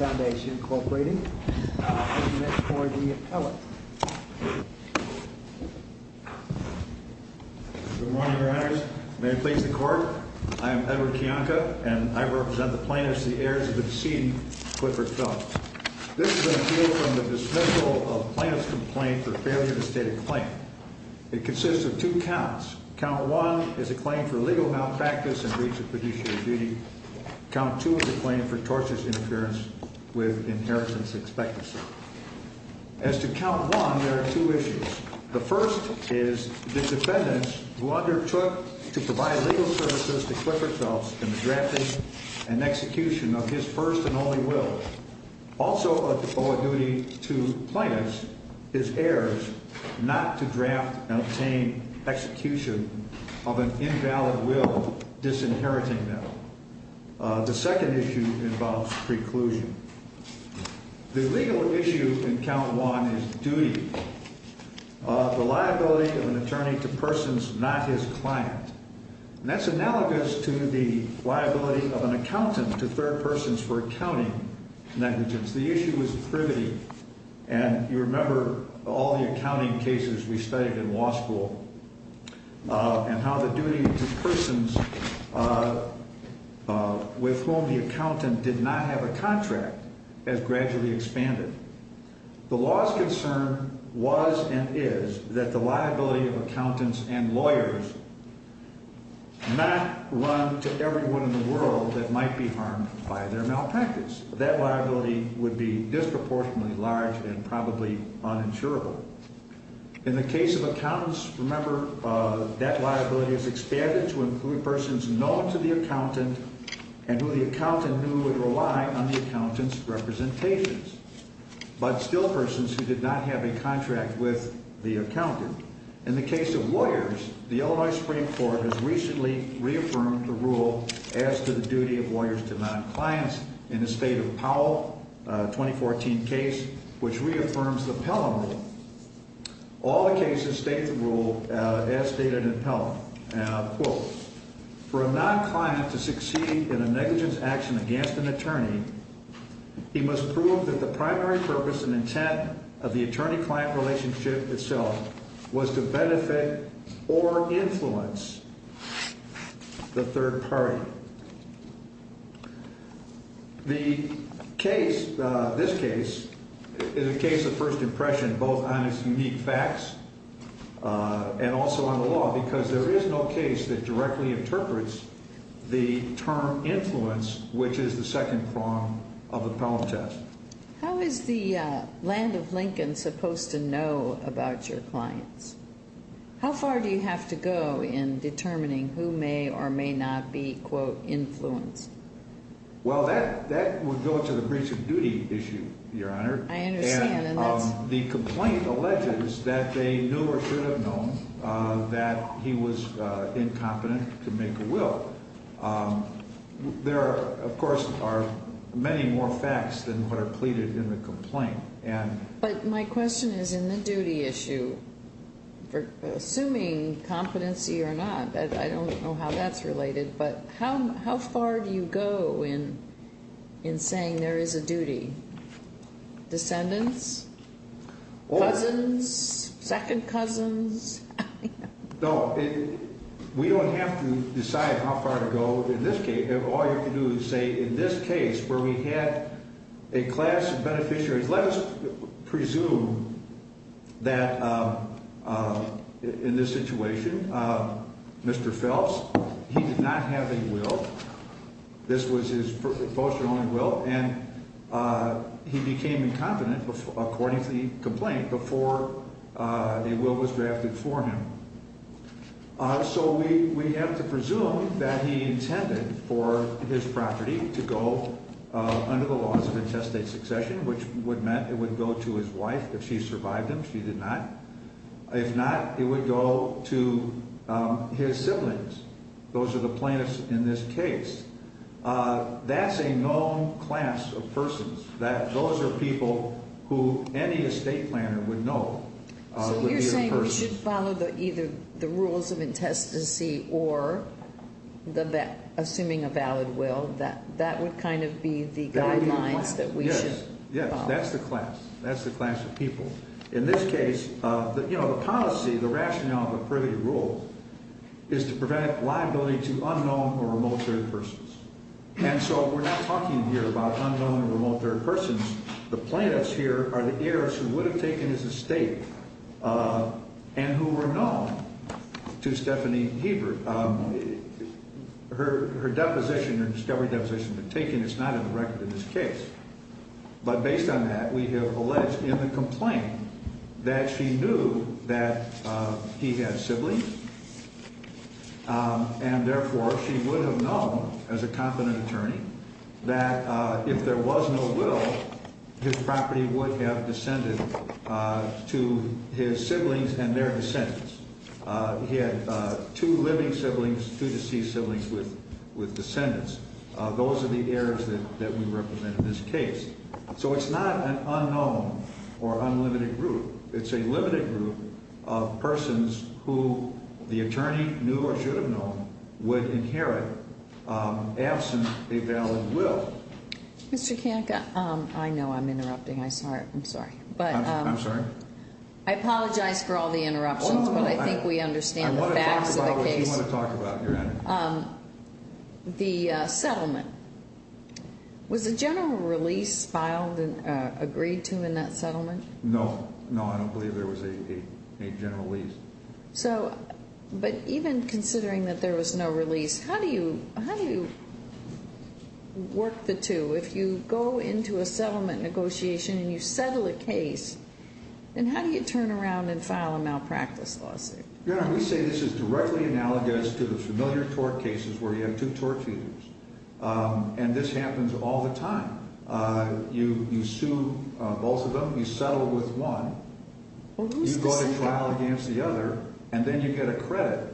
Foundation, Incorporated, to submit for the appellate. Good morning, Your Honors. May it please the Court, I am Edward Kiyonka, and I represent the plaintiffs, the heirs of the decedent Clifford Phelps. This is an appeal from the dismissal of plaintiff's complaint for failure to state a claim. It consists of two counts. Count one is a claim for legal malpractice and breach of fiduciary duty. Count two is a claim for tortuous interference with inheritance expectancy. As to count one, there are two issues. The first is the defendants who undertook to provide legal services to Clifford Phelps in the drafting and execution of his first and only will. Also a duty to plaintiffs, his heirs, not to draft and obtain execution of an invalid will disinheriting them. The second issue involves preclusion. The legal issue in count one is duty. The liability of an attorney to persons not his client. And that's analogous to the liability of an accountant to third persons for accounting negligence. The issue is privity. And you remember all the accounting cases we studied in law school and how the duty to persons with whom the accountant did not have a contract has gradually expanded. The law's concern was and is that the liability of accountants and lawyers not run to everyone in the world that might be harmed by their malpractice. That liability would be disproportionately large and probably uninsurable. In the case of accountants, remember that liability is expanded to include persons known to the accountant and who the accountant knew would rely on the accountant's representations, but still persons who did not have a contract with the accountant. In the case of lawyers, the Illinois Supreme Court has recently reaffirmed the rule as to the duty of lawyers to non-clients in the State of Powell 2014 case, which reaffirms the Pelham rule. All the cases state the rule as stated in Pelham. Quote, for a non-client to succeed in a negligence action against an attorney, he must prove that the primary purpose and intent of the attorney-client relationship itself was to benefit or influence the third party. The case, this case, is a case of first impression both on its unique facts and also on the law because there is no case that directly interprets the term influence, which is the second prong of the Pelham test. How is the land of Lincoln supposed to know about your clients? How far do you have to go in determining who may or may not be, quote, influenced? Well, that would go to the breach of duty issue, Your Honor. I understand. The complaint alleges that they knew or should have known that he was incompetent to make a will. There, of course, are many more facts than what are pleaded in the complaint. But my question is in the duty issue, assuming competency or not, I don't know how that's related, but how far do you go in saying there is a duty? Descendants? Cousins? Second cousins? No, we don't have to decide how far to go in this case. All you have to do is say, in this case where we had a class of beneficiaries, let us presume that in this situation, Mr. Phelps, he did not have a will. This was his first and only will. And he became incompetent according to the complaint before a will was drafted for him. So we have to presume that he intended for his property to go under the laws of intestate succession, which would mean it would go to his wife if she survived him. She did not. If not, it would go to his siblings. Those are the plaintiffs in this case. That's a known class of persons. Those are people who any estate planner would know. So you're saying we should follow either the assuming a valid will, that would kind of be the guidelines that we should follow. Yes, that's the class. That's the class of people. In this case, the policy, the rationale of a privy rule is to prevent liability to unknown or remote third persons. And so we're not talking here about unknown or remote third persons. The plaintiffs here are the heirs who would have taken his estate and who were known to Stephanie Hebert. Her deposition or discovery deposition has been taken. It's not in the record in this case. But based on that, we have alleged in the complaint that she knew that he had siblings. And therefore she would have known as a competent attorney that if there was no will, his property would have descended to his siblings and their descendants. He had two living siblings, two deceased siblings with descendants. Those are the heirs that we represent in this case. So it's not an unknown or unlimited group. It's a limited group of persons who the attorney knew or should have known would inherit absent a valid will. Mr. Kanka, I know I'm interrupting. I'm sorry. I'm sorry. I apologize for all the interruptions, but I think we understand the facts of the case. I want to talk about what you want to talk about, Your Honor. The settlement. Was a general release filed and agreed to in that settlement? No. No, I don't believe there was a general release. So, but even considering that there was no release, how do you, how do you work the two? If you go into a settlement negotiation and you settle a case, then how do you turn around and file a malpractice lawsuit? Your Honor, we say this is directly analogous to the familiar tort cases where you have two tort feeders. And this happens all the time. You sue both of them. You settle with one. You go to trial against the other, and then you get a credit.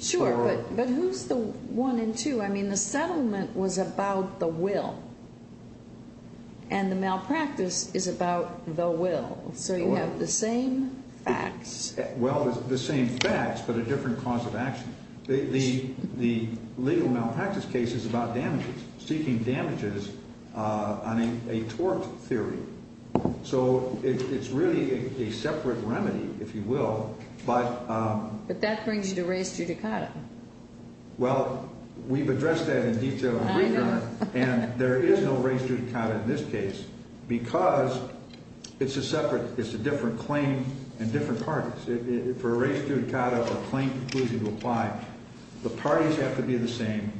Sure, but who's the one and two? I mean, the settlement was about the will. And the malpractice is about the will. So you have the same facts. Well, the same facts, but a different cause of action. The legal malpractice case is about damages, seeking damages on a tort theory. So it's really a separate remedy, if you will. But that brings you to res judicata. Well, we've addressed that in detail. I know. And there is no res judicata in this case because it's a separate, it's a different claim and different parties. For a res judicata, a claim conclusive reply, the parties have to be the same,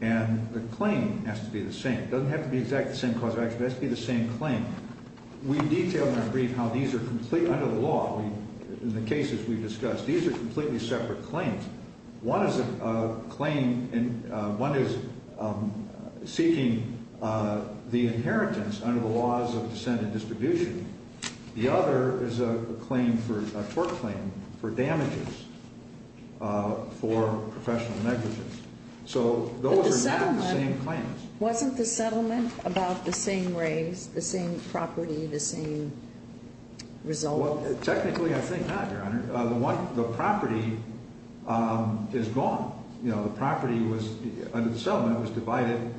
and the claim has to be the same. It doesn't have to be exactly the same cause of action. It has to be the same claim. We detail in our brief how these are completely under the law. In the cases we've discussed, these are completely separate claims. One is a claim, one is seeking the inheritance under the laws of dissent and distribution. The other is a claim for, a tort claim for damages for professional negligence. So those are not the same claims. But the settlement, wasn't the settlement about the same raise, the same property, the same result? Well, technically, I think not, Your Honor. The one, the property is gone. You know, the property was, under the settlement, was divided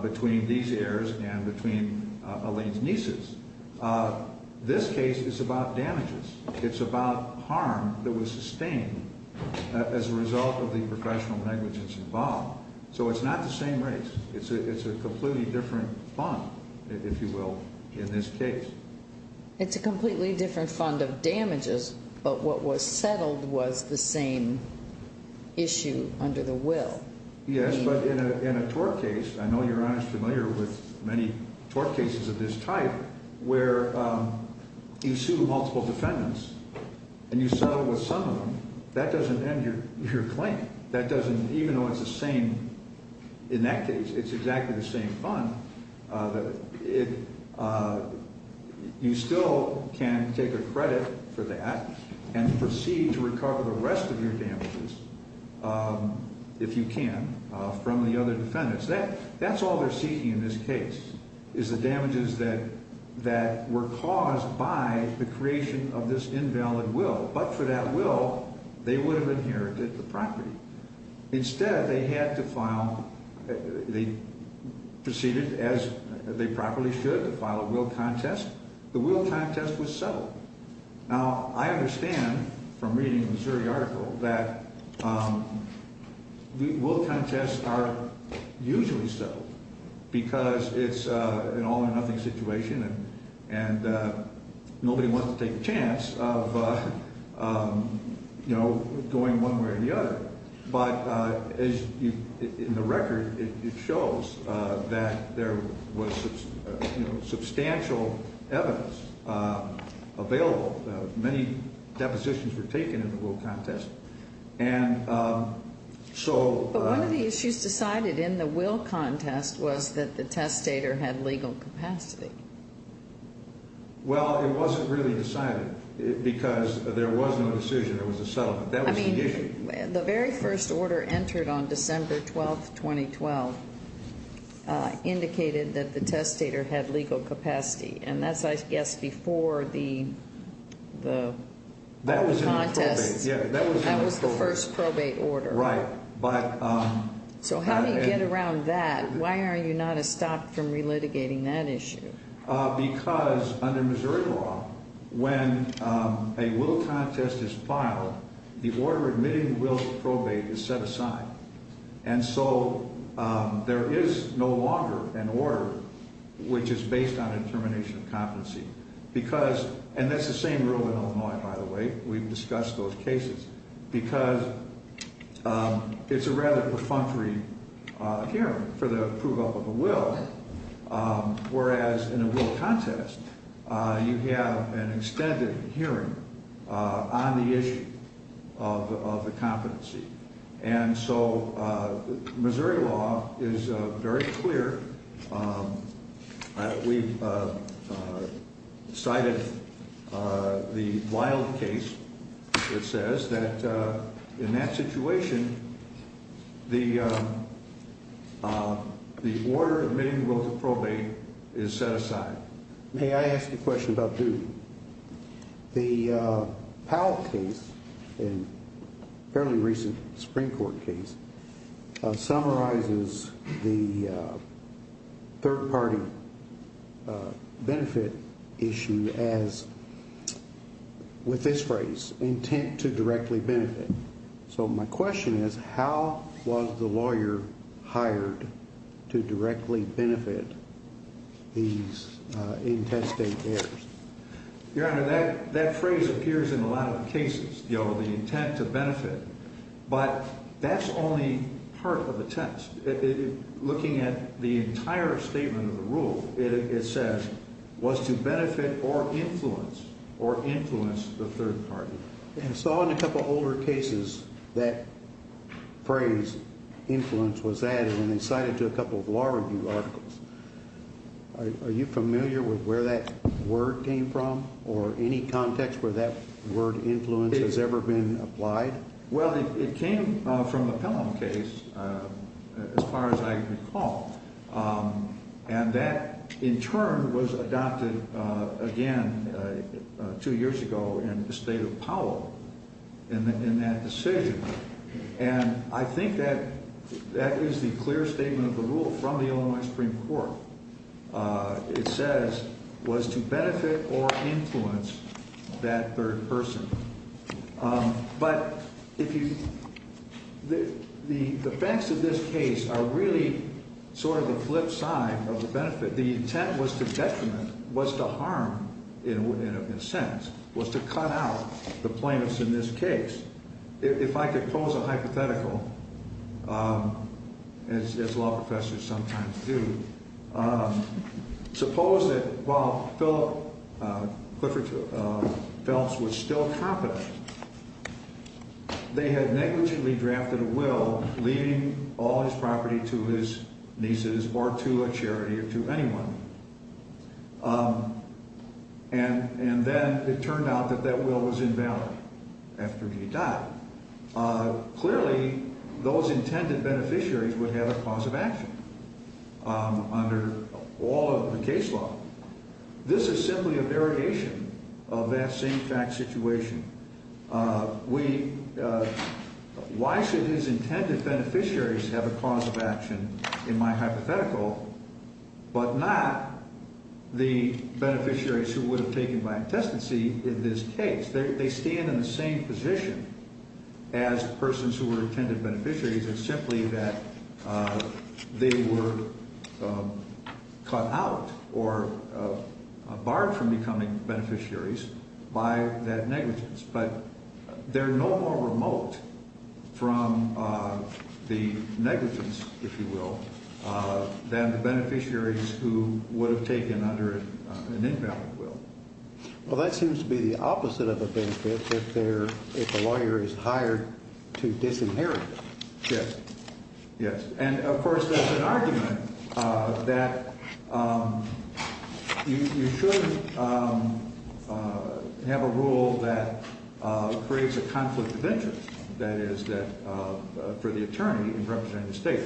between these heirs and between Elaine's nieces. This case is about damages. It's about harm that was sustained as a result of the professional negligence involved. So it's not the same raise. It's a completely different fund, if you will, in this case. It's a completely different fund of damages, but what was settled was the same issue under the will. Yes, but in a tort case, I know Your Honor is familiar with many tort cases of this type where you sue multiple defendants and you settle with some of them. That doesn't end your claim. That doesn't, even though it's the same, in that case, it's exactly the same fund, you still can take a credit for that and proceed to recover the rest of your damages, if you can, from the other defendants. That's all they're seeking in this case, is the damages that were caused by the creation of this invalid will. But for that will, they would have inherited the property. Instead, they had to file, they proceeded as they properly should to file a will contest. The will contest was settled. Now, I understand from reading the Missouri article that will contests are usually settled because it's an all or nothing situation and nobody wants to take a chance of, you know, going one way or the other. But as you, in the record, it shows that there was, you know, substantial evidence available. Many depositions were taken in the will contest. And so... But one of the issues decided in the will contest was that the testator had legal capacity. Well, it wasn't really decided because there was no decision. There was a settlement. That was the issue. I mean, the very first order entered on December 12, 2012, indicated that the testator had legal capacity. And that's, I guess, before the... That was in the probate. The contest. Yeah, that was in the probate. That was the first probate order. Right. But... So, how do you get around that? Why are you not a stop from relitigating that issue? Because under Missouri law, when a will contest is filed, the order admitting wills probate is set aside. And so, there is no longer an order which is based on intermination of those cases. Because it's a rather perfunctory hearing for the approval of a will, whereas in a will contest, you have an extended hearing on the issue of the competency. And so, Missouri law is very clear. We cited the Wilde case. It says that in that situation, the order admitting will to probate is set aside. May I ask a question about duty? The Powell case, a fairly recent Supreme Court case, summarizes the third-party benefit issue as, with this phrase, intent to directly benefit. So, my question is, how was the lawyer hired to directly benefit these intestate bears? Your Honor, that phrase appears in a lot of cases. You know, the intent to benefit. But that's only part of the test. Looking at the entire statement of the rule, it says, was to benefit or influence, or influence the third party. And so, in a couple of older cases, that phrase, influence, was added, and they cited it to a couple of law review articles. Are you familiar with where that word came from, or any context where that word, influence, has ever been applied? Well, it came from the Pelham case, as far as I recall. And that, in turn, was adopted again, two years ago, in the State of Powell, in that decision. And I think that that is the clear statement of the rule from the Illinois Supreme Court. It says, was to benefit or influence that third person. But, if you, the facts of this case are really sort of the flip side of the benefit, the intent was to detriment, was to harm, in a sense, was to cut out the plaintiffs in this case. If I could pose a hypothetical, as law professors sometimes do, suppose that while Clifford Phelps was still competent, they had negligently drafted a will leaving all his property to his nieces or to a charity or to anyone. And then it turned out that that will was invalid after he died. Clearly, those intended beneficiaries would have a cause of action under all of the case law. This is simply a variegation of that same fact situation. We, why should his intended beneficiaries have a cause of action in my hypothetical, but not the beneficiaries who would have taken by intestancy in this case? They stand in the same position as persons who were intended beneficiaries. It's simply that they were cut out or barred from becoming beneficiaries by that negligence. But, they're no more remote from the negligence, if you will, than the beneficiaries who would have taken under an invalid will. Well, that seems to be the opposite of a benefit if they're, if a lawyer is hired to disinherit them. Yes. Yes. And, of course, that's an argument that you should have a rule that creates a conflict of interest, that is, for the attorney in representing the state.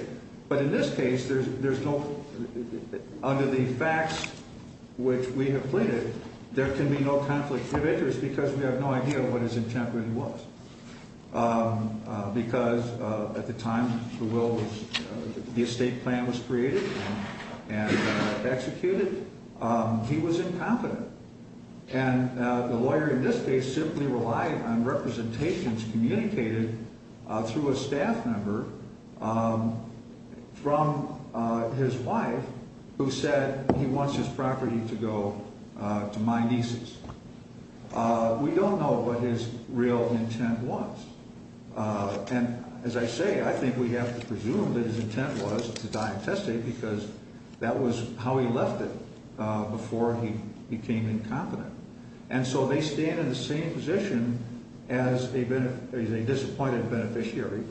But, in this case, there's no, under the facts which we have because at the time, if you will, the estate plan was created and executed, he was incompetent. And, the lawyer in this case simply relied on representations communicated through a staff member from his wife who said he wants his property to go to my nieces. We don't know what his real intent was. And, as I say, I think we have to presume that his intent was to die a testate because that was how he left it before he became incompetent. And so, they stand in the same position as a disappointed beneficiary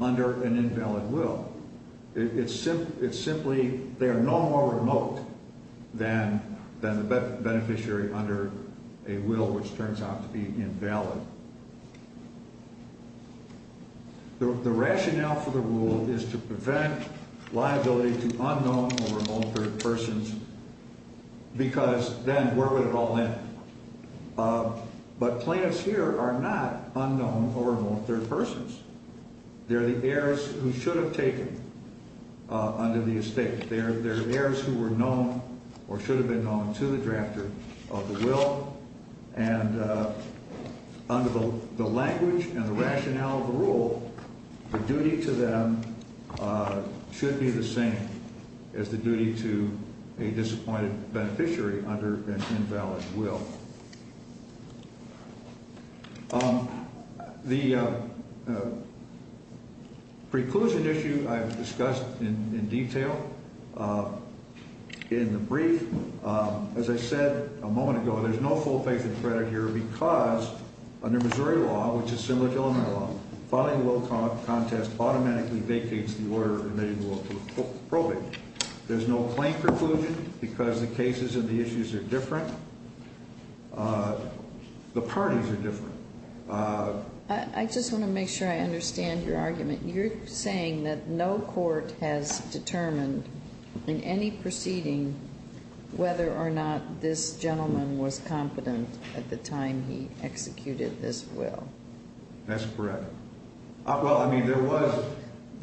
under an invalid will. It's simply they are no more remote than the beneficiary under a will which turns out to be invalid. The rationale for the rule is to prevent liability to unknown or remote third persons because then where would it all end? But, plaintiffs here are not unknown or remote third persons. They're the heirs who should have taken under the estate. They're heirs who were known or should have been known to the drafter of the will. And, under the language and the rationale of the rule, the duty to them should be the same as the duty to a disappointed beneficiary under an invalid will. The preclusion issue I've discussed in detail in the brief. As I said a moment ago, there's no full faith and credit here because under Missouri law, which is similar to Illinois law, filing a will contest automatically vacates the order of remitting the will for probing. There's no plain conclusion because the cases and the issues are different. The parties are different. I just want to make sure I understand your argument. You're saying that no court has determined in any proceeding whether or not this gentleman was competent at the time he executed this will. That's correct. Well, I mean, there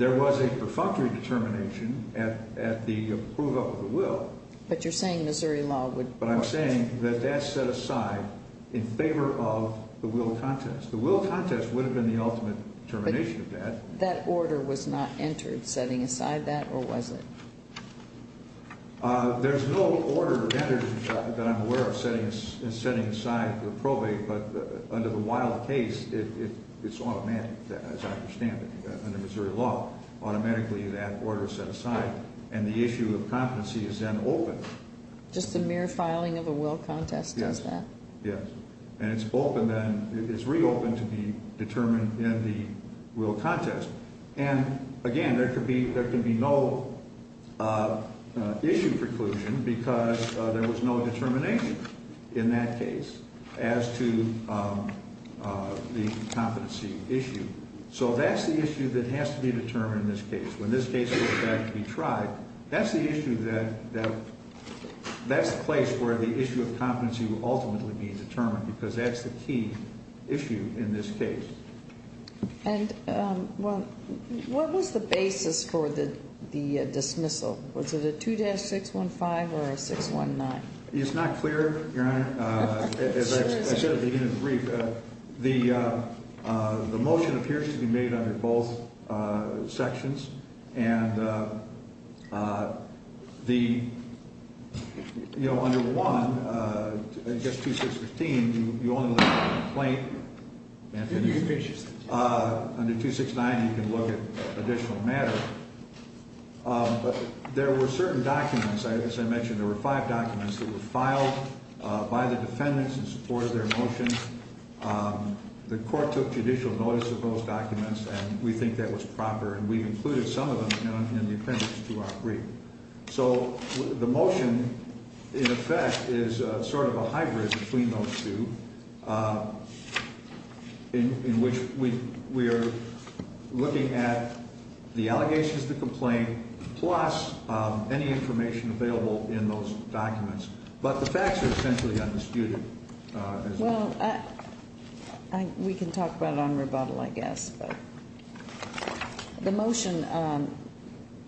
was a perfunctory determination at the approval of the will. But you're saying Missouri law would... But I'm saying that that's set aside in favor of the will contest. The will contest would have been the ultimate determination of that. But that order was not entered setting aside that, or was it? There's no order entered that I'm aware of setting aside the probate, but under the Illinois law case, it's automatic, as I understand it, under Missouri law. Automatically that order is set aside, and the issue of competency is then opened. Just the mere filing of a will contest does that? Yes. And it's reopened to be determined in the will contest. And again, there can be no issue preclusion because there was no determination in that case as to the competency issue. So that's the issue that has to be determined in this case. When this case was actually tried, that's the issue that, that's the place where the issue of competency will ultimately be determined because that's the key issue in this case. And what was the basis for the dismissal? Was it a 2-615 or a 619? It's not clear, Your Honor. As I said at the beginning of the brief, the motion appears to be made under both sections, and the, you know, under one, just 2-615, you only look at the complaint. Under 2-619, you can look at additional matter. But there were certain documents, as I mentioned, there were five documents that were filed by the defendants in support of their motions. The court took judicial notice of those documents, and we think that was proper, and we included some of them in the appendix to our brief. So the motion, in effect, is sort of a hybrid between those two, in which we are looking at the allegations of the complaint plus any information available in those documents. But the facts are essentially undisputed. Well, we can talk about it on rebuttal, I guess. But the motion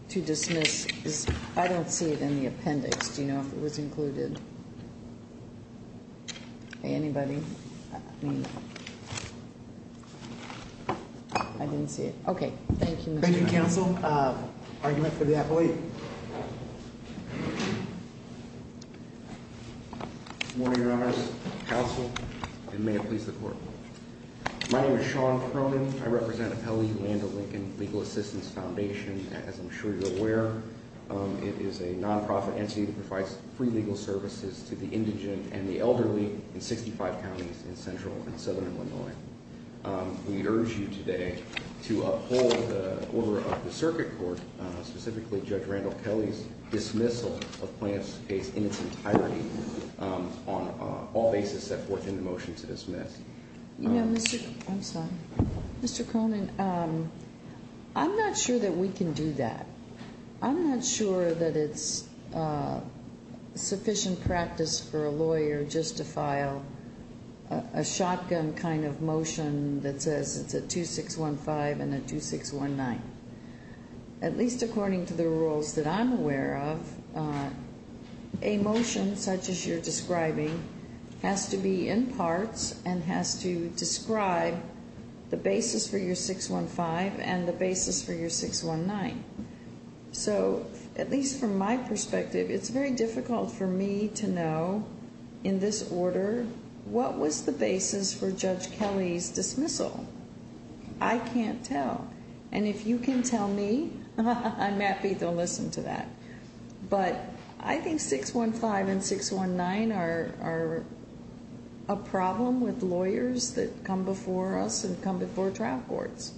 to dismiss, I don't see it in the appendix. Do you know if it was included? Anybody? I mean, I didn't see it. Okay. Thank you, Mr. Chairman. Thank you, counsel. Argument for the appellee. Good morning, Your Honors, counsel, and may it please the court. My name is Sean Cronin. I represent Appellee Land O'Lincoln Legal Assistance Foundation. As I'm sure you're aware, it is a nonprofit entity that provides free legal services to the indigent and the elderly in 65 counties in Central and Southern Illinois. We urge you today to uphold the order of the Circuit Court, specifically Judge Randall Kelley's dismissal of Plaintiff's case in its entirety, on all bases set forth in the motion to dismiss. I'm sorry. Mr. Cronin, I'm not sure that we can do that. I'm not sure that it's sufficient practice for a lawyer just to file a shotgun kind of motion that says it's a 2615 and a 2619. At least according to the rules that I'm aware of, a motion such as you're describing has to be in parts and has to describe the basis for your 615 and the basis for your 619. So, at least from my perspective, it's very difficult for me to know in this order what was the basis for Judge Kelley's dismissal. I can't tell. And if you can tell me, I'm ready to listen to that. But I think 615 and 619 are a problem with lawyers that come before us and come before trial courts.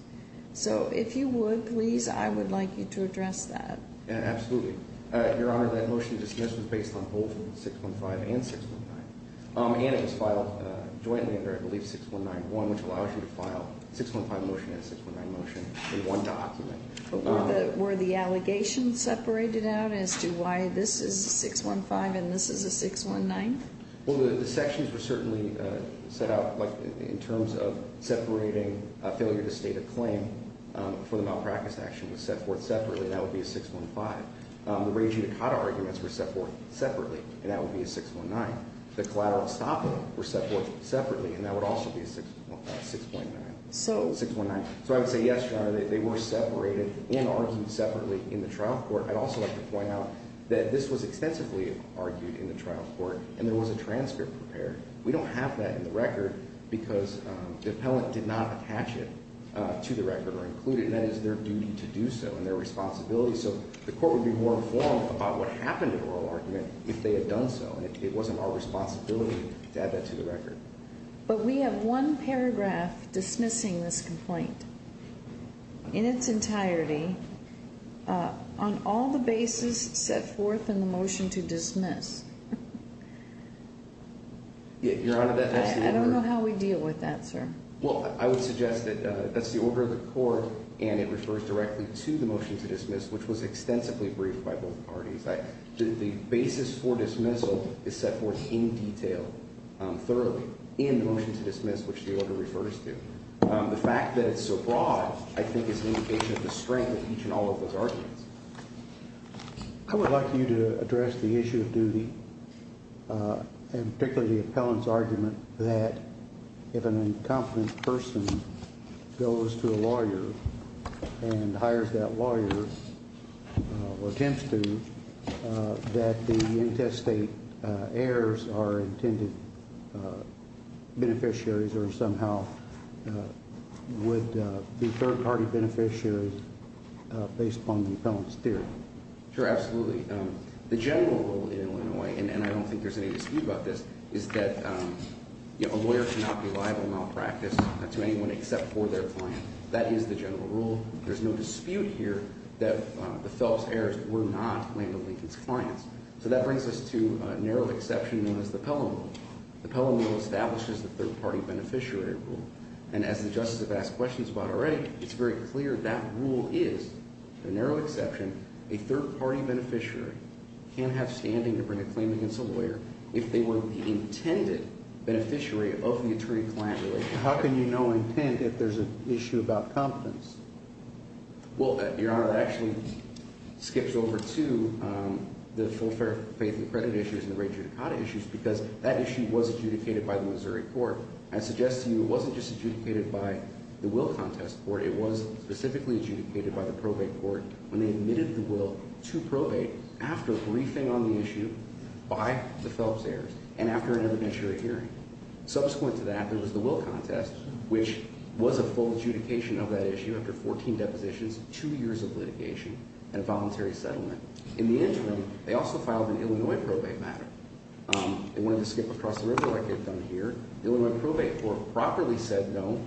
So, if you would, please, I would like you to address that. Absolutely. Your Honor, that motion to dismiss was based on both 615 and 619. And it was filed jointly under, I believe, 6191, which allows you to file a 615 motion and a 619 motion in one document. But were the allegations separated out as to why this is a 615 and this is a 619? Well, the sections were certainly set out, like, in terms of separating a failure to state a claim for the malpractice action was set forth separately, and that would be a 615. The raging Dakota arguments were set forth separately, and that would be a 619. The collateral stopping were set forth separately, and that would also be a 619. So I would say, yes, Your Honor, they were separated and argued separately in the trial court. I'd also like to point out that this was extensively argued in the trial court, and there was a transcript prepared. We don't have that in the record because the appellant did not attach it to the record or include it, and that is their duty to do so and their responsibility. So the court would be more informed about what happened in the oral argument if they had done so, and it wasn't our responsibility to add that to the record. But we have one paragraph dismissing this complaint in its entirety on all the bases set forth in the motion to dismiss. I don't know how we deal with that, sir. Well, I would suggest that that's the order of the court, and it refers directly to the motion to dismiss, which was extensively briefed by both parties. The basis for dismissal is set forth in detail, thoroughly, in the motion to dismiss, which the order refers to. The fact that it's so broad, I think, is an indication of the strength of each and all of those arguments. I would like you to address the issue of duty, and particularly the appellant's argument that if an incompetent person goes to a lawyer and hires that lawyer or attempts to, that the intestate heirs are intended beneficiaries or somehow would be third-party beneficiaries based upon the appellant's theory. Sure, absolutely. The general rule in Illinois, and I don't think there's any dispute about this, is that a lawyer cannot be liable in malpractice to anyone except for their client. That is the general rule. There's no dispute here that the Phelps heirs were not Land O'Lincoln's clients. So that brings us to a narrow exception known as the Pelham Rule. The Pelham Rule establishes the third-party beneficiary rule, and as the Justice has asked questions about already, it's very clear that rule is, with a narrow exception, a third-party beneficiary can't have standing to bring a claim against a lawyer if they were the intended beneficiary of the attorney-client relationship. How can you know intent if there's an issue about competence? Well, Your Honor, that actually skips over to the full faith and accredited issues and the rate judicata issues because that issue was adjudicated by the Missouri court. I suggest to you it wasn't just adjudicated by the will contest court. It was specifically adjudicated by the probate court when they admitted the will to probate after briefing on the issue by the Phelps heirs and after an evidentiary hearing. Subsequent to that, there was the will contest, which was a full adjudication of that issue after 14 depositions, two years of litigation, and a voluntary settlement. In the interim, they also filed an Illinois probate matter. They wanted to skip across the river like they've done here. The Illinois probate court properly said no.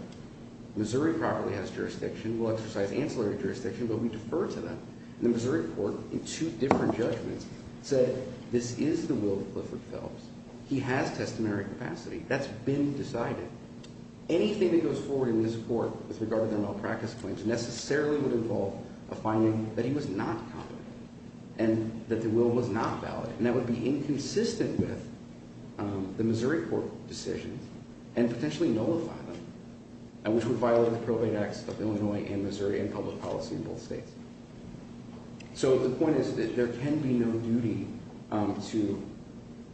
Missouri properly has jurisdiction. We'll exercise ancillary jurisdiction, but we defer to them. And the Missouri court, in two different judgments, said this is the will of Clifford Phelps. He has testamentary capacity. That's been decided. Anything that goes forward in this court with regard to their malpractice claims necessarily would involve a finding that he was not competent and that the will was not valid, and that would be inconsistent with the Missouri court decisions and potentially nullify them, which would violate the probate acts of Illinois and Missouri and public policy in both states. So the point is that there can be no duty to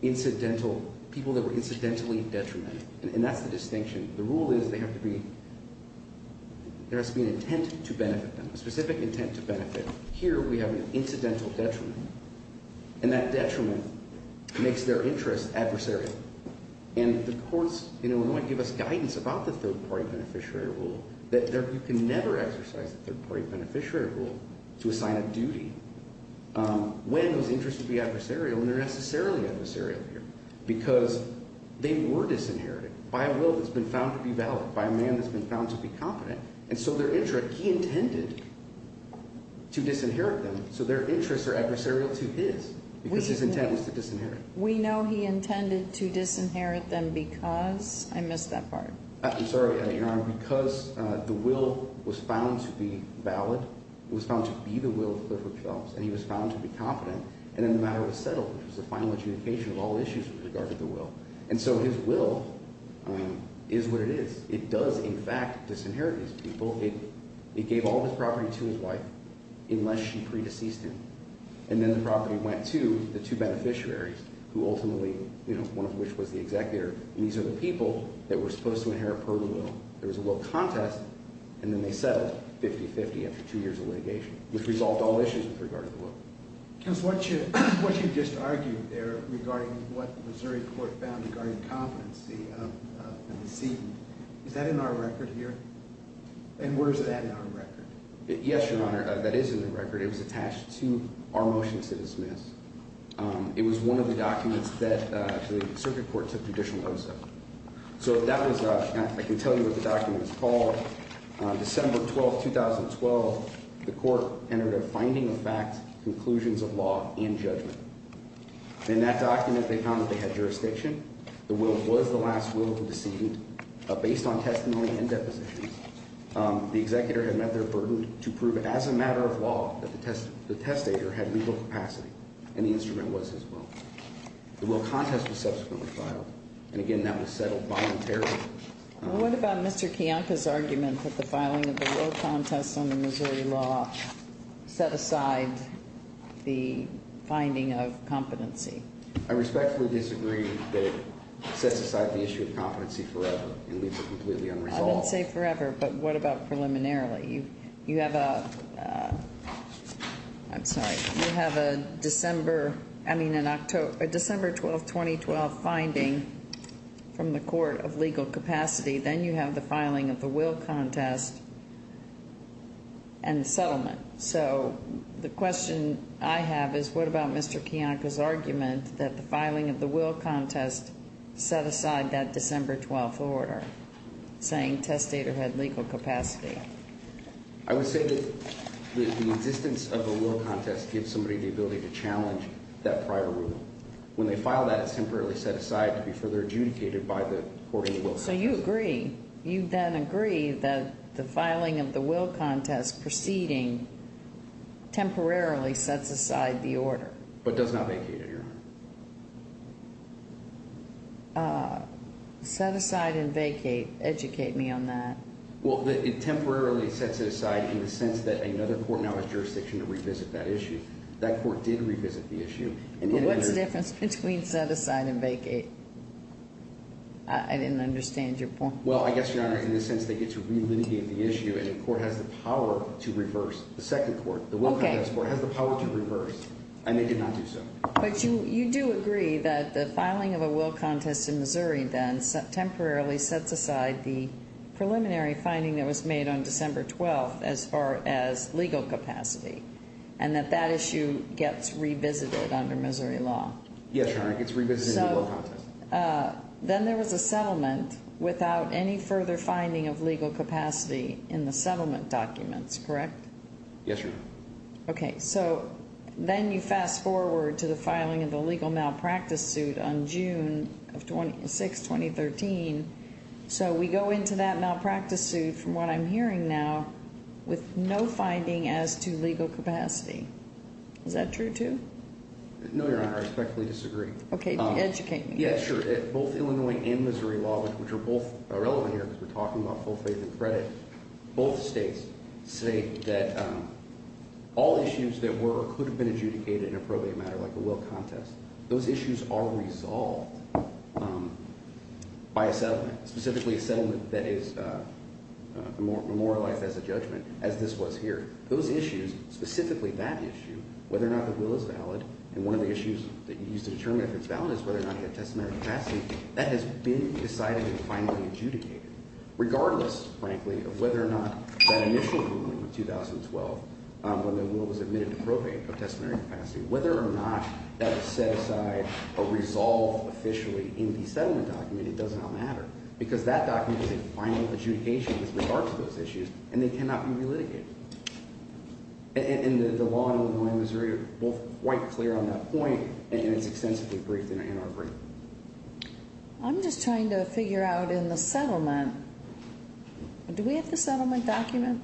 incidental, people that were incidentally detrimental, and that's the distinction. The rule is they have to be, there has to be an intent to benefit them, a specific intent to benefit. Here we have an incidental detriment, and that detriment makes their interest adversarial. And the courts in Illinois give us guidance about the third-party beneficiary rule that you can never exercise a third-party beneficiary rule to assign a duty when those interests would be adversarial, and they're necessarily adversarial here, because they were disinherited by a will that's been found to be valid, by a man that's been found to be competent. And so their interest, he intended to disinherit them, so their interests are adversarial to his, because his intent was to disinherit. We know he intended to disinherit them because, I missed that part. I'm sorry, Your Honor, because the will was found to be valid, it was found to be the will of Clifford Phelps, and he was found to be competent, and then the matter was settled, which was the final adjudication of all issues with regard to the will. And so his will, I mean, is what it is. It does, in fact, disinherit these people. It gave all of his property to his wife, unless she pre-deceased him. And then the property went to the two beneficiaries, who ultimately, you know, one of which was the executor, and these are the people that were supposed to inherit per will. There was a will contest, and then they settled 50-50 after two years of litigation, which resolved all issues with regard to the will. Because what you just argued there, regarding what the Missouri court found regarding competency of the deceased, is that in our record here? And where is that in our record? Yes, Your Honor, that is in the record. It was attached to our motion to dismiss. It was one of the documents that the circuit court took judicial notice of. So that was, I can tell you what the document is called. December 12, 2012, the court entered a finding of facts, conclusions of law, and judgment. In that document, they found that they had jurisdiction. The will was the last will of the deceased. Based on testimony and depositions, the executor had met their burden to prove as a matter of law that the testator had legal capacity, and the instrument was his will. The will contest was subsequently filed, and again, that was settled voluntarily. What about Mr. Kiyanka's argument that the filing of the will contest under Missouri law set aside the finding of competency? I respectfully disagree that it sets aside the issue of competency forever and leaves it completely unresolved. I wouldn't say forever, but what about preliminarily? You have a December 12, 2012, finding from the court of legal capacity, then you have the filing of the will contest and the settlement. So the question I have is what about Mr. Kiyanka's argument that the filing of the will contest set aside that December 12 order saying testator had legal capacity? I would say that the existence of the will contest gives somebody the ability to challenge that prior rule. When they file that, it's temporarily set aside to be further adjudicated by the court of legal capacity. So you agree, you then agree that the filing of the will contest preceding temporarily sets aside the order? But does not vacate it, Your Honor. Set aside and vacate. Educate me on that. Well, it temporarily sets it aside in the sense that another court now has jurisdiction to revisit that issue. That court did revisit the issue. And what's the difference between set aside and vacate? I didn't understand your point. Well, I guess, Your Honor, in the sense they get to relitigate the issue and the court has the power to reverse. The second court, the will contest court, has the power to reverse and they did not do so. But you do agree that the filing of a will contest in Missouri then temporarily sets aside the preliminary finding that was made on December 12th as far as legal capacity and that that issue gets revisited under Missouri law? Yes, Your Honor, it gets revisited in the will contest. Then there was a settlement without any further finding of legal capacity in the settlement documents, correct? Yes, Your Honor. Okay, so then you fast forward to the filing of the legal malpractice suit on June 6, 2013. So we go into that malpractice suit, from what I'm hearing now, with no finding as to legal capacity. Is that true, too? No, Your Honor, I respectfully disagree. Okay, educate me. Yes, sure. Both Illinois and Missouri law, which are both relevant here because we're All issues that were or could have been adjudicated in a probate matter like the will contest, those issues are resolved by a settlement, specifically a settlement that is memorialized as a judgment, as this was here. Those issues, specifically that issue, whether or not the will is valid, and one of the issues that you use to determine if it's valid is whether or not you have testamentary capacity, that has been decided and finally adjudicated, regardless, frankly, of whether or not that in the initial ruling of 2012, when the will was admitted to probate of testamentary capacity, whether or not that was set aside or resolved officially in the settlement document, it does not matter, because that document is a final adjudication with regards to those issues, and they cannot be relitigated. And the law in Illinois and Missouri are both quite clear on that point, and it's extensively briefed in our brief. I'm just trying to figure out in the settlement, do we have the settlement document?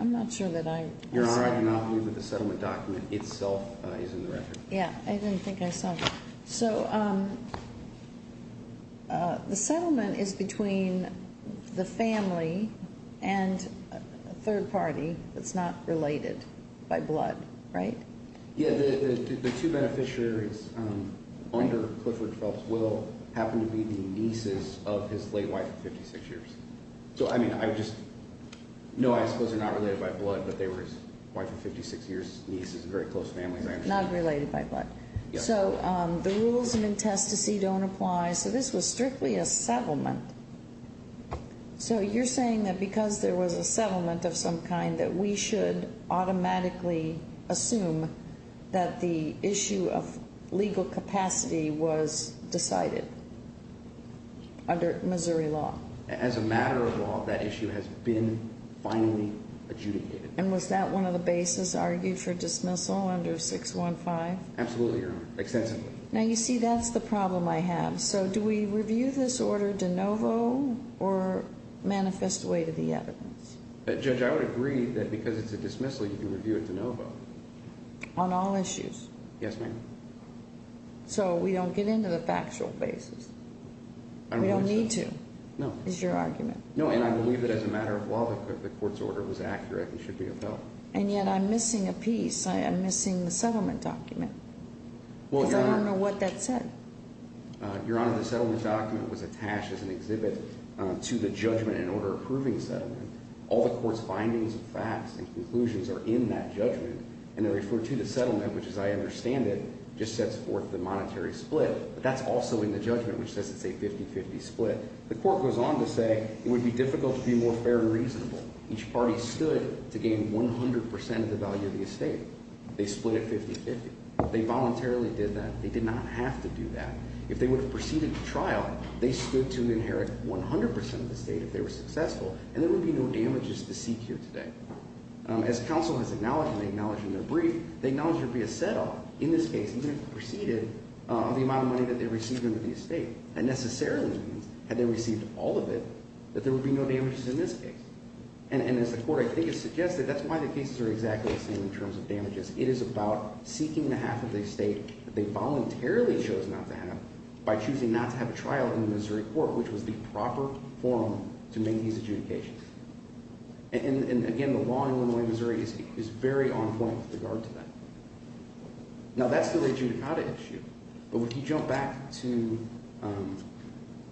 I'm not sure that I set it up. Your Honor, I do not believe that the settlement document itself is in the record. Yeah, I didn't think I saw that. So the settlement is between the family and a third party that's not related by blood, right? Yeah, the two beneficiaries under Clifford Phelps' will happen to be the nieces of his late wife of 56 years. So, I mean, I just, no, I suppose they're not related by blood, but they were his wife of 56 years' nieces, very close families, I understand. Not related by blood. Yes. So the rules of intestacy don't apply. So this was strictly a settlement. So you're saying that because there was a settlement of some kind that we should automatically assume that the issue of legal capacity was decided under Missouri law? As a matter of law, that issue has been finally adjudicated. And was that one of the bases argued for dismissal under 615? Absolutely, Your Honor, extensively. Now, you see, that's the problem I have. So do we review this order de novo or manifest way to the evidence? Judge, I would agree that because it's a dismissal, you can review it de novo. On all issues? Yes, ma'am. So we don't get into the factual bases? We don't need to, is your argument? No, and I believe that as a matter of law, the court's order was accurate and should be upheld. And yet I'm missing a piece. I'm missing the settlement document. Because I don't know what that said. Your Honor, the settlement document was attached as an exhibit to the judgment in order approving the settlement. All the court's findings and facts and conclusions are in that judgment. And they refer to the settlement, which as I understand it, just sets forth the monetary split. But that's also in the judgment, which says it's a 50-50 split. The court goes on to say it would be difficult to be more fair and reasonable. Each party stood to gain 100% of the value of the estate. They split it 50-50. They voluntarily did that. They did not have to do that. If they would have proceeded to trial, they stood to inherit 100% of the estate if they were successful. And there would be no damages to seek here today. As counsel has acknowledged, and they acknowledged in their brief, they acknowledged there would be a set-off in this case, even if they proceeded, of the amount of money that they received under the estate. That necessarily means, had they received all of it, that there would be no damages in this case. And as the court, I think, has suggested, that's why the cases are exactly the same in terms of damages. It is about seeking the half of the estate that they voluntarily chose not to have by choosing not to have a trial in the Missouri court, which was the proper forum to make these adjudications. And, again, the law in Illinois and Missouri is very on point with regard to that. Now, that's still an adjudicata issue. But if you jump back to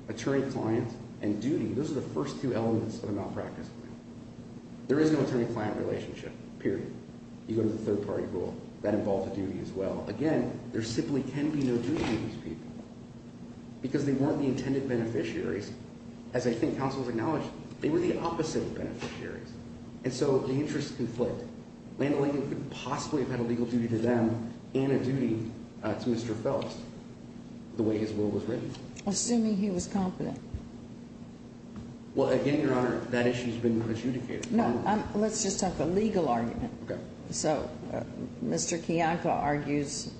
attorney-client and duty, those are the first two elements of a malpractice claim. There is no attorney-client relationship, period. You go to the third-party rule. That involves a duty as well. Again, there simply can be no duty to these people because they weren't the intended beneficiaries. As I think counsel has acknowledged, they were the opposite of beneficiaries. And so the interests conflict. Land O'Lagan couldn't possibly have had a legal duty to them and a duty to Mr. Fels, the way his will was written. Assuming he was competent. Well, again, Your Honor, that issue has been adjudicated. No, let's just talk a legal argument. Okay. So Mr. Kiyanka argues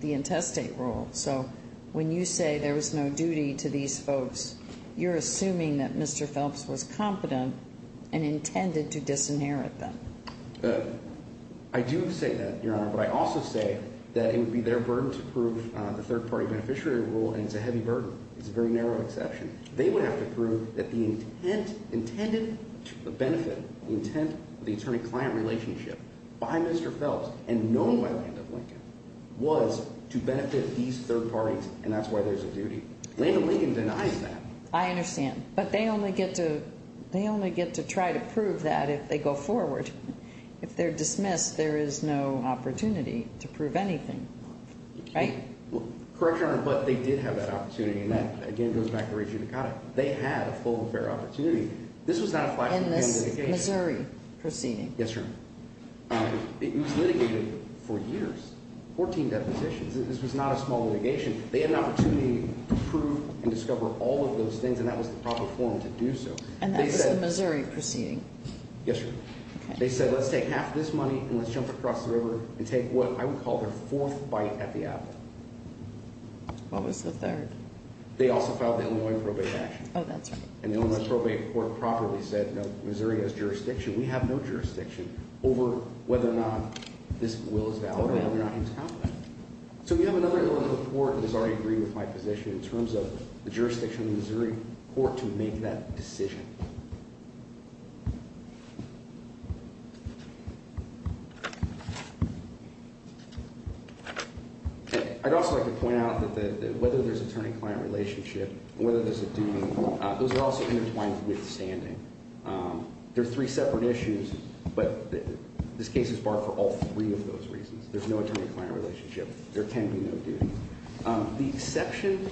the intestate rule. So when you say there was no duty to these folks, you're assuming that Mr. Fels was competent and intended to disinherit them. I do say that, Your Honor. But I also say that it would be their burden to prove the third-party beneficiary rule, and it's a heavy burden. It's a very narrow exception. They would have to prove that the intended benefit, the intent, the attorney-client relationship by Mr. Fels and known by Land O'Lagan was to benefit these third parties, and that's why there's a duty. Land O'Lagan denies that. I understand. But they only get to try to prove that if they go forward. If they're dismissed, there is no opportunity to prove anything. Right? Correct, Your Honor. But they did have that opportunity, and that, again, goes back to Reggie Ducati. They had a full and fair opportunity. This was not a flashy litigation. In this Missouri proceeding? Yes, Your Honor. It was litigated for years, 14 depositions. This was not a small litigation. They had an opportunity to prove and discover all of those things, and that was the proper form to do so. And that was the Missouri proceeding? Yes, Your Honor. Okay. They said, let's take half of this money and let's jump across the river and take what I would call their fourth bite at the apple. What was the third? They also filed the Illinois probate action. Oh, that's right. And the Illinois probate court properly said, no, Missouri has jurisdiction. We have no jurisdiction over whether or not this will is valid or whether or not it's competent. So we have another Illinois court that has already agreed with my position in terms of the jurisdiction of the Missouri court to make that decision. I'd also like to point out that whether there's attorney-client relationship or whether there's a duty, those are also intertwined with standing. There are three separate issues, but this case is barred for all three of those reasons. There's no attorney-client relationship. There can be no duty. The exception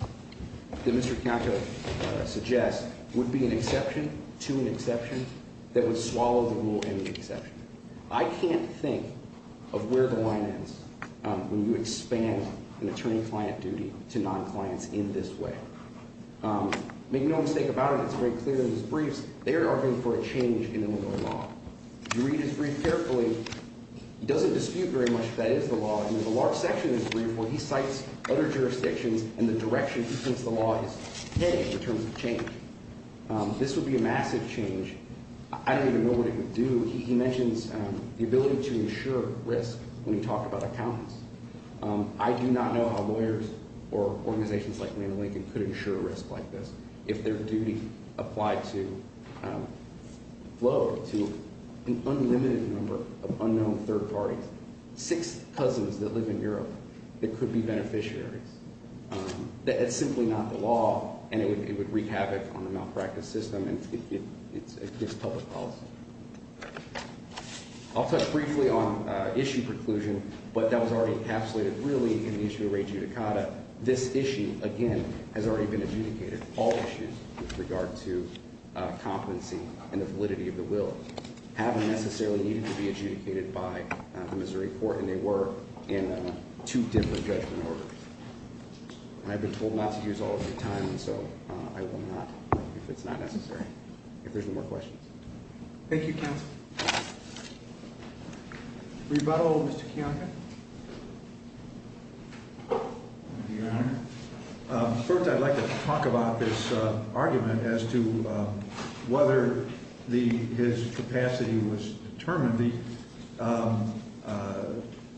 that Mr. Kato suggests would be an exception to an exception that would swallow the rule and the exception. I can't think of where the line ends when you expand an attorney-client duty to non-clients in this way. Make no mistake about it. It's very clear in his briefs. They are arguing for a change in Illinois law. If you read his brief carefully, he doesn't dispute very much that that is the law. And there's a large section in his brief where he cites other jurisdictions and the direction in which the law is headed in terms of change. This would be a massive change. I don't even know what it would do. He mentions the ability to ensure risk when he talked about accountants. I do not know how lawyers or organizations like Randall Lincoln could ensure risk like this if their duty applied to an unlimited number of unknown third parties, six cousins that live in Europe that could be beneficiaries. It's simply not the law, and it would wreak havoc on the malpractice system and its public policy. I'll touch briefly on issue preclusion, but that was already encapsulated really in the issue of re judicata. This issue, again, has already been adjudicated. All issues with regard to competency and the validity of the will haven't necessarily needed to be adjudicated by the Missouri court, and they were in two different judgment orders. And I've been told not to use all of your time, and so I will not if it's not necessary. If there's no more questions. Thank you, counsel. Rebuttal, Mr. Kiyanka. First, I'd like to talk about this argument as to whether his capacity was determined. The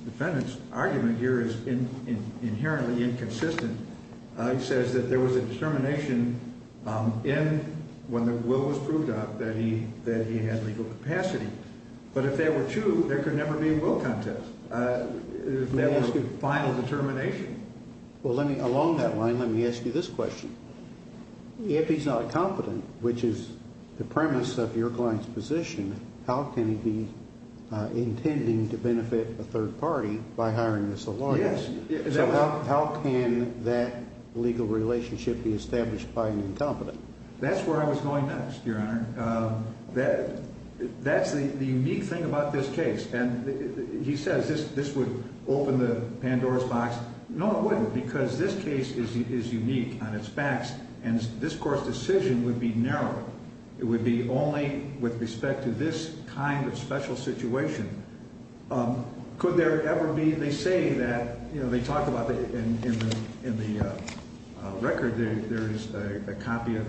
defendant's argument here is inherently inconsistent. He says that there was a determination when the will was proved out that he had legal capacity, but if there were two, there could never be a will contest. That was the final determination. Well, along that line, let me ask you this question. If he's not competent, which is the premise of your client's position, how can he be intending to benefit a third party by hiring this lawyer? Yes. So how can that legal relationship be established by an incompetent? That's where I was going next, Your Honor. That's the unique thing about this case. And he says this would open the Pandora's box. No, it wouldn't, because this case is unique on its backs, and this court's decision would be narrow. It would be only with respect to this kind of special situation. Could there ever be, they say that, you know, they talk about in the record there is a copy of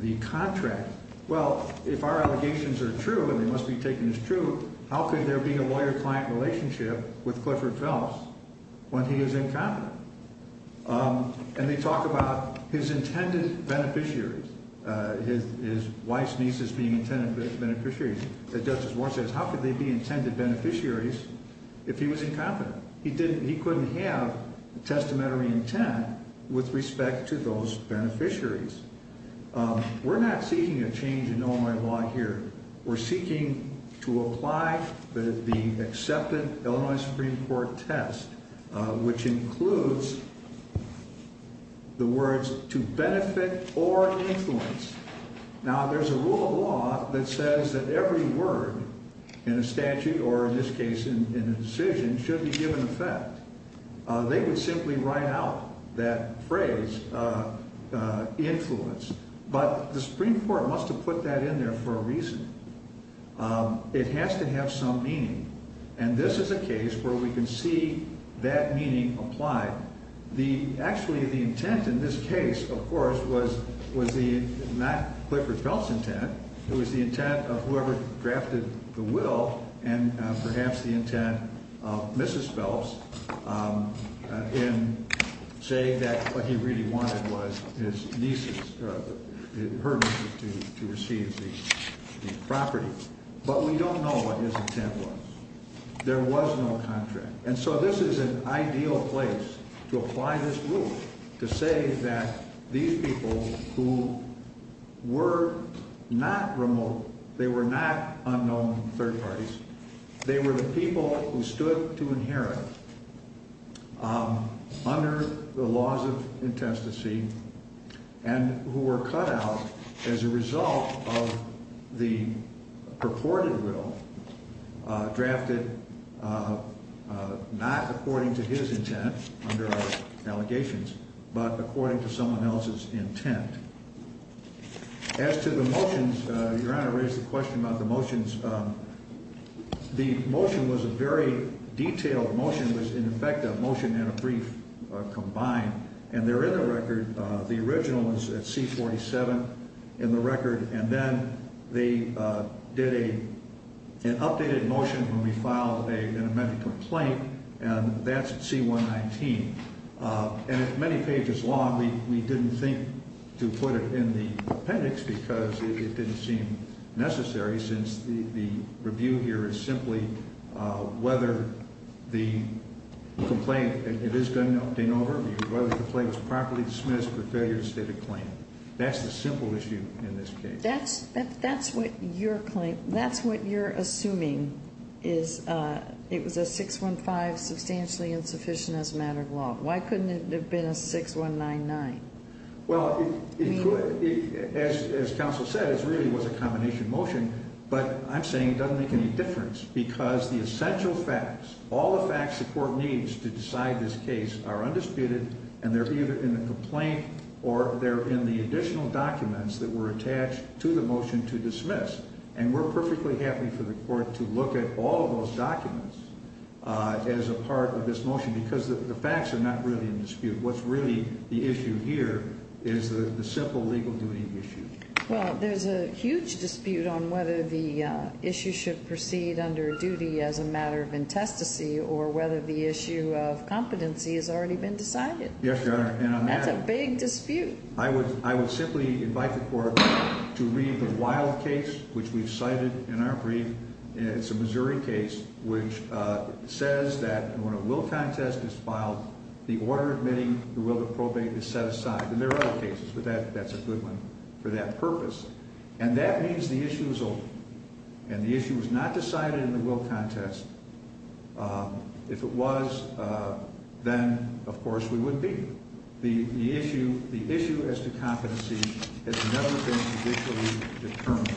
the contract. Well, if our allegations are true and they must be taken as true, how could there be a lawyer-client relationship with Clifford Phelps when he is incompetent? And they talk about his intended beneficiaries, his wife's nieces being intended beneficiaries. But Justice Warren says how could they be intended beneficiaries if he was incompetent? He couldn't have a testamentary intent with respect to those beneficiaries. We're not seeking a change in Illinois law here. We're seeking to apply the accepted Illinois Supreme Court test, which includes the words to benefit or influence. Now, there's a rule of law that says that every word in a statute or in this case in a decision should be given effect. They would simply write out that phrase, influence. But the Supreme Court must have put that in there for a reason. It has to have some meaning. And this is a case where we can see that meaning applied. Actually, the intent in this case, of course, was not Clifford Phelps' intent. It was the intent of whoever drafted the will and perhaps the intent of Mrs. Phelps in saying that what he really wanted was her nieces to receive the property. But we don't know what his intent was. There was no contract. And so this is an ideal place to apply this rule, to say that these people who were not remote, they were not unknown third parties. They were the people who stood to inherit under the laws of intestacy and who were cut out as a result of the purported will drafted not according to his intent under our allegations, but according to someone else's intent. As to the motions, Your Honor raised the question about the motions. The motion was a very detailed motion. It was, in effect, a motion and a brief combined. And there is a record. The original was at C-47 in the record. And then they did an updated motion when we filed an amendment to a claim, and that's at C-119. And it's many pages long. We didn't think to put it in the appendix because it didn't seem necessary since the review here is simply whether the complaint, and it is done in overview, whether the complaint was properly dismissed or failure to state a claim. That's the simple issue in this case. That's what you're assuming is it was a 615 substantially insufficient as a matter of law. Why couldn't it have been a 6199? Well, as counsel said, it really was a combination motion. But I'm saying it doesn't make any difference because the essential facts, all the facts the court needs to decide this case are undisputed, and they're either in the complaint or they're in the additional documents that were attached to the motion to dismiss. And we're perfectly happy for the court to look at all of those documents as a part of this motion because the facts are not really in dispute. What's really the issue here is the simple legal duty issue. Well, there's a huge dispute on whether the issue should proceed under duty as a matter of intestacy or whether the issue of competency has already been decided. Yes, Your Honor. That's a big dispute. I would simply invite the court to read the Wilde case, which we've cited in our brief. It's a Missouri case which says that when a will contest is filed, the order admitting the will to probate is set aside. And there are other cases, but that's a good one for that purpose. And that means the issue is over. And the issue was not decided in the will contest. If it was, then, of course, we would be. The issue as to competency has never been judicially determined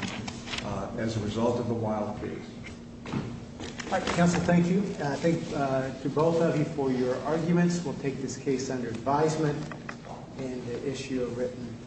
as a result of the Wilde case. All right, counsel. Thank you. I thank you both for your arguments. We'll take this case under advisement and issue a written report.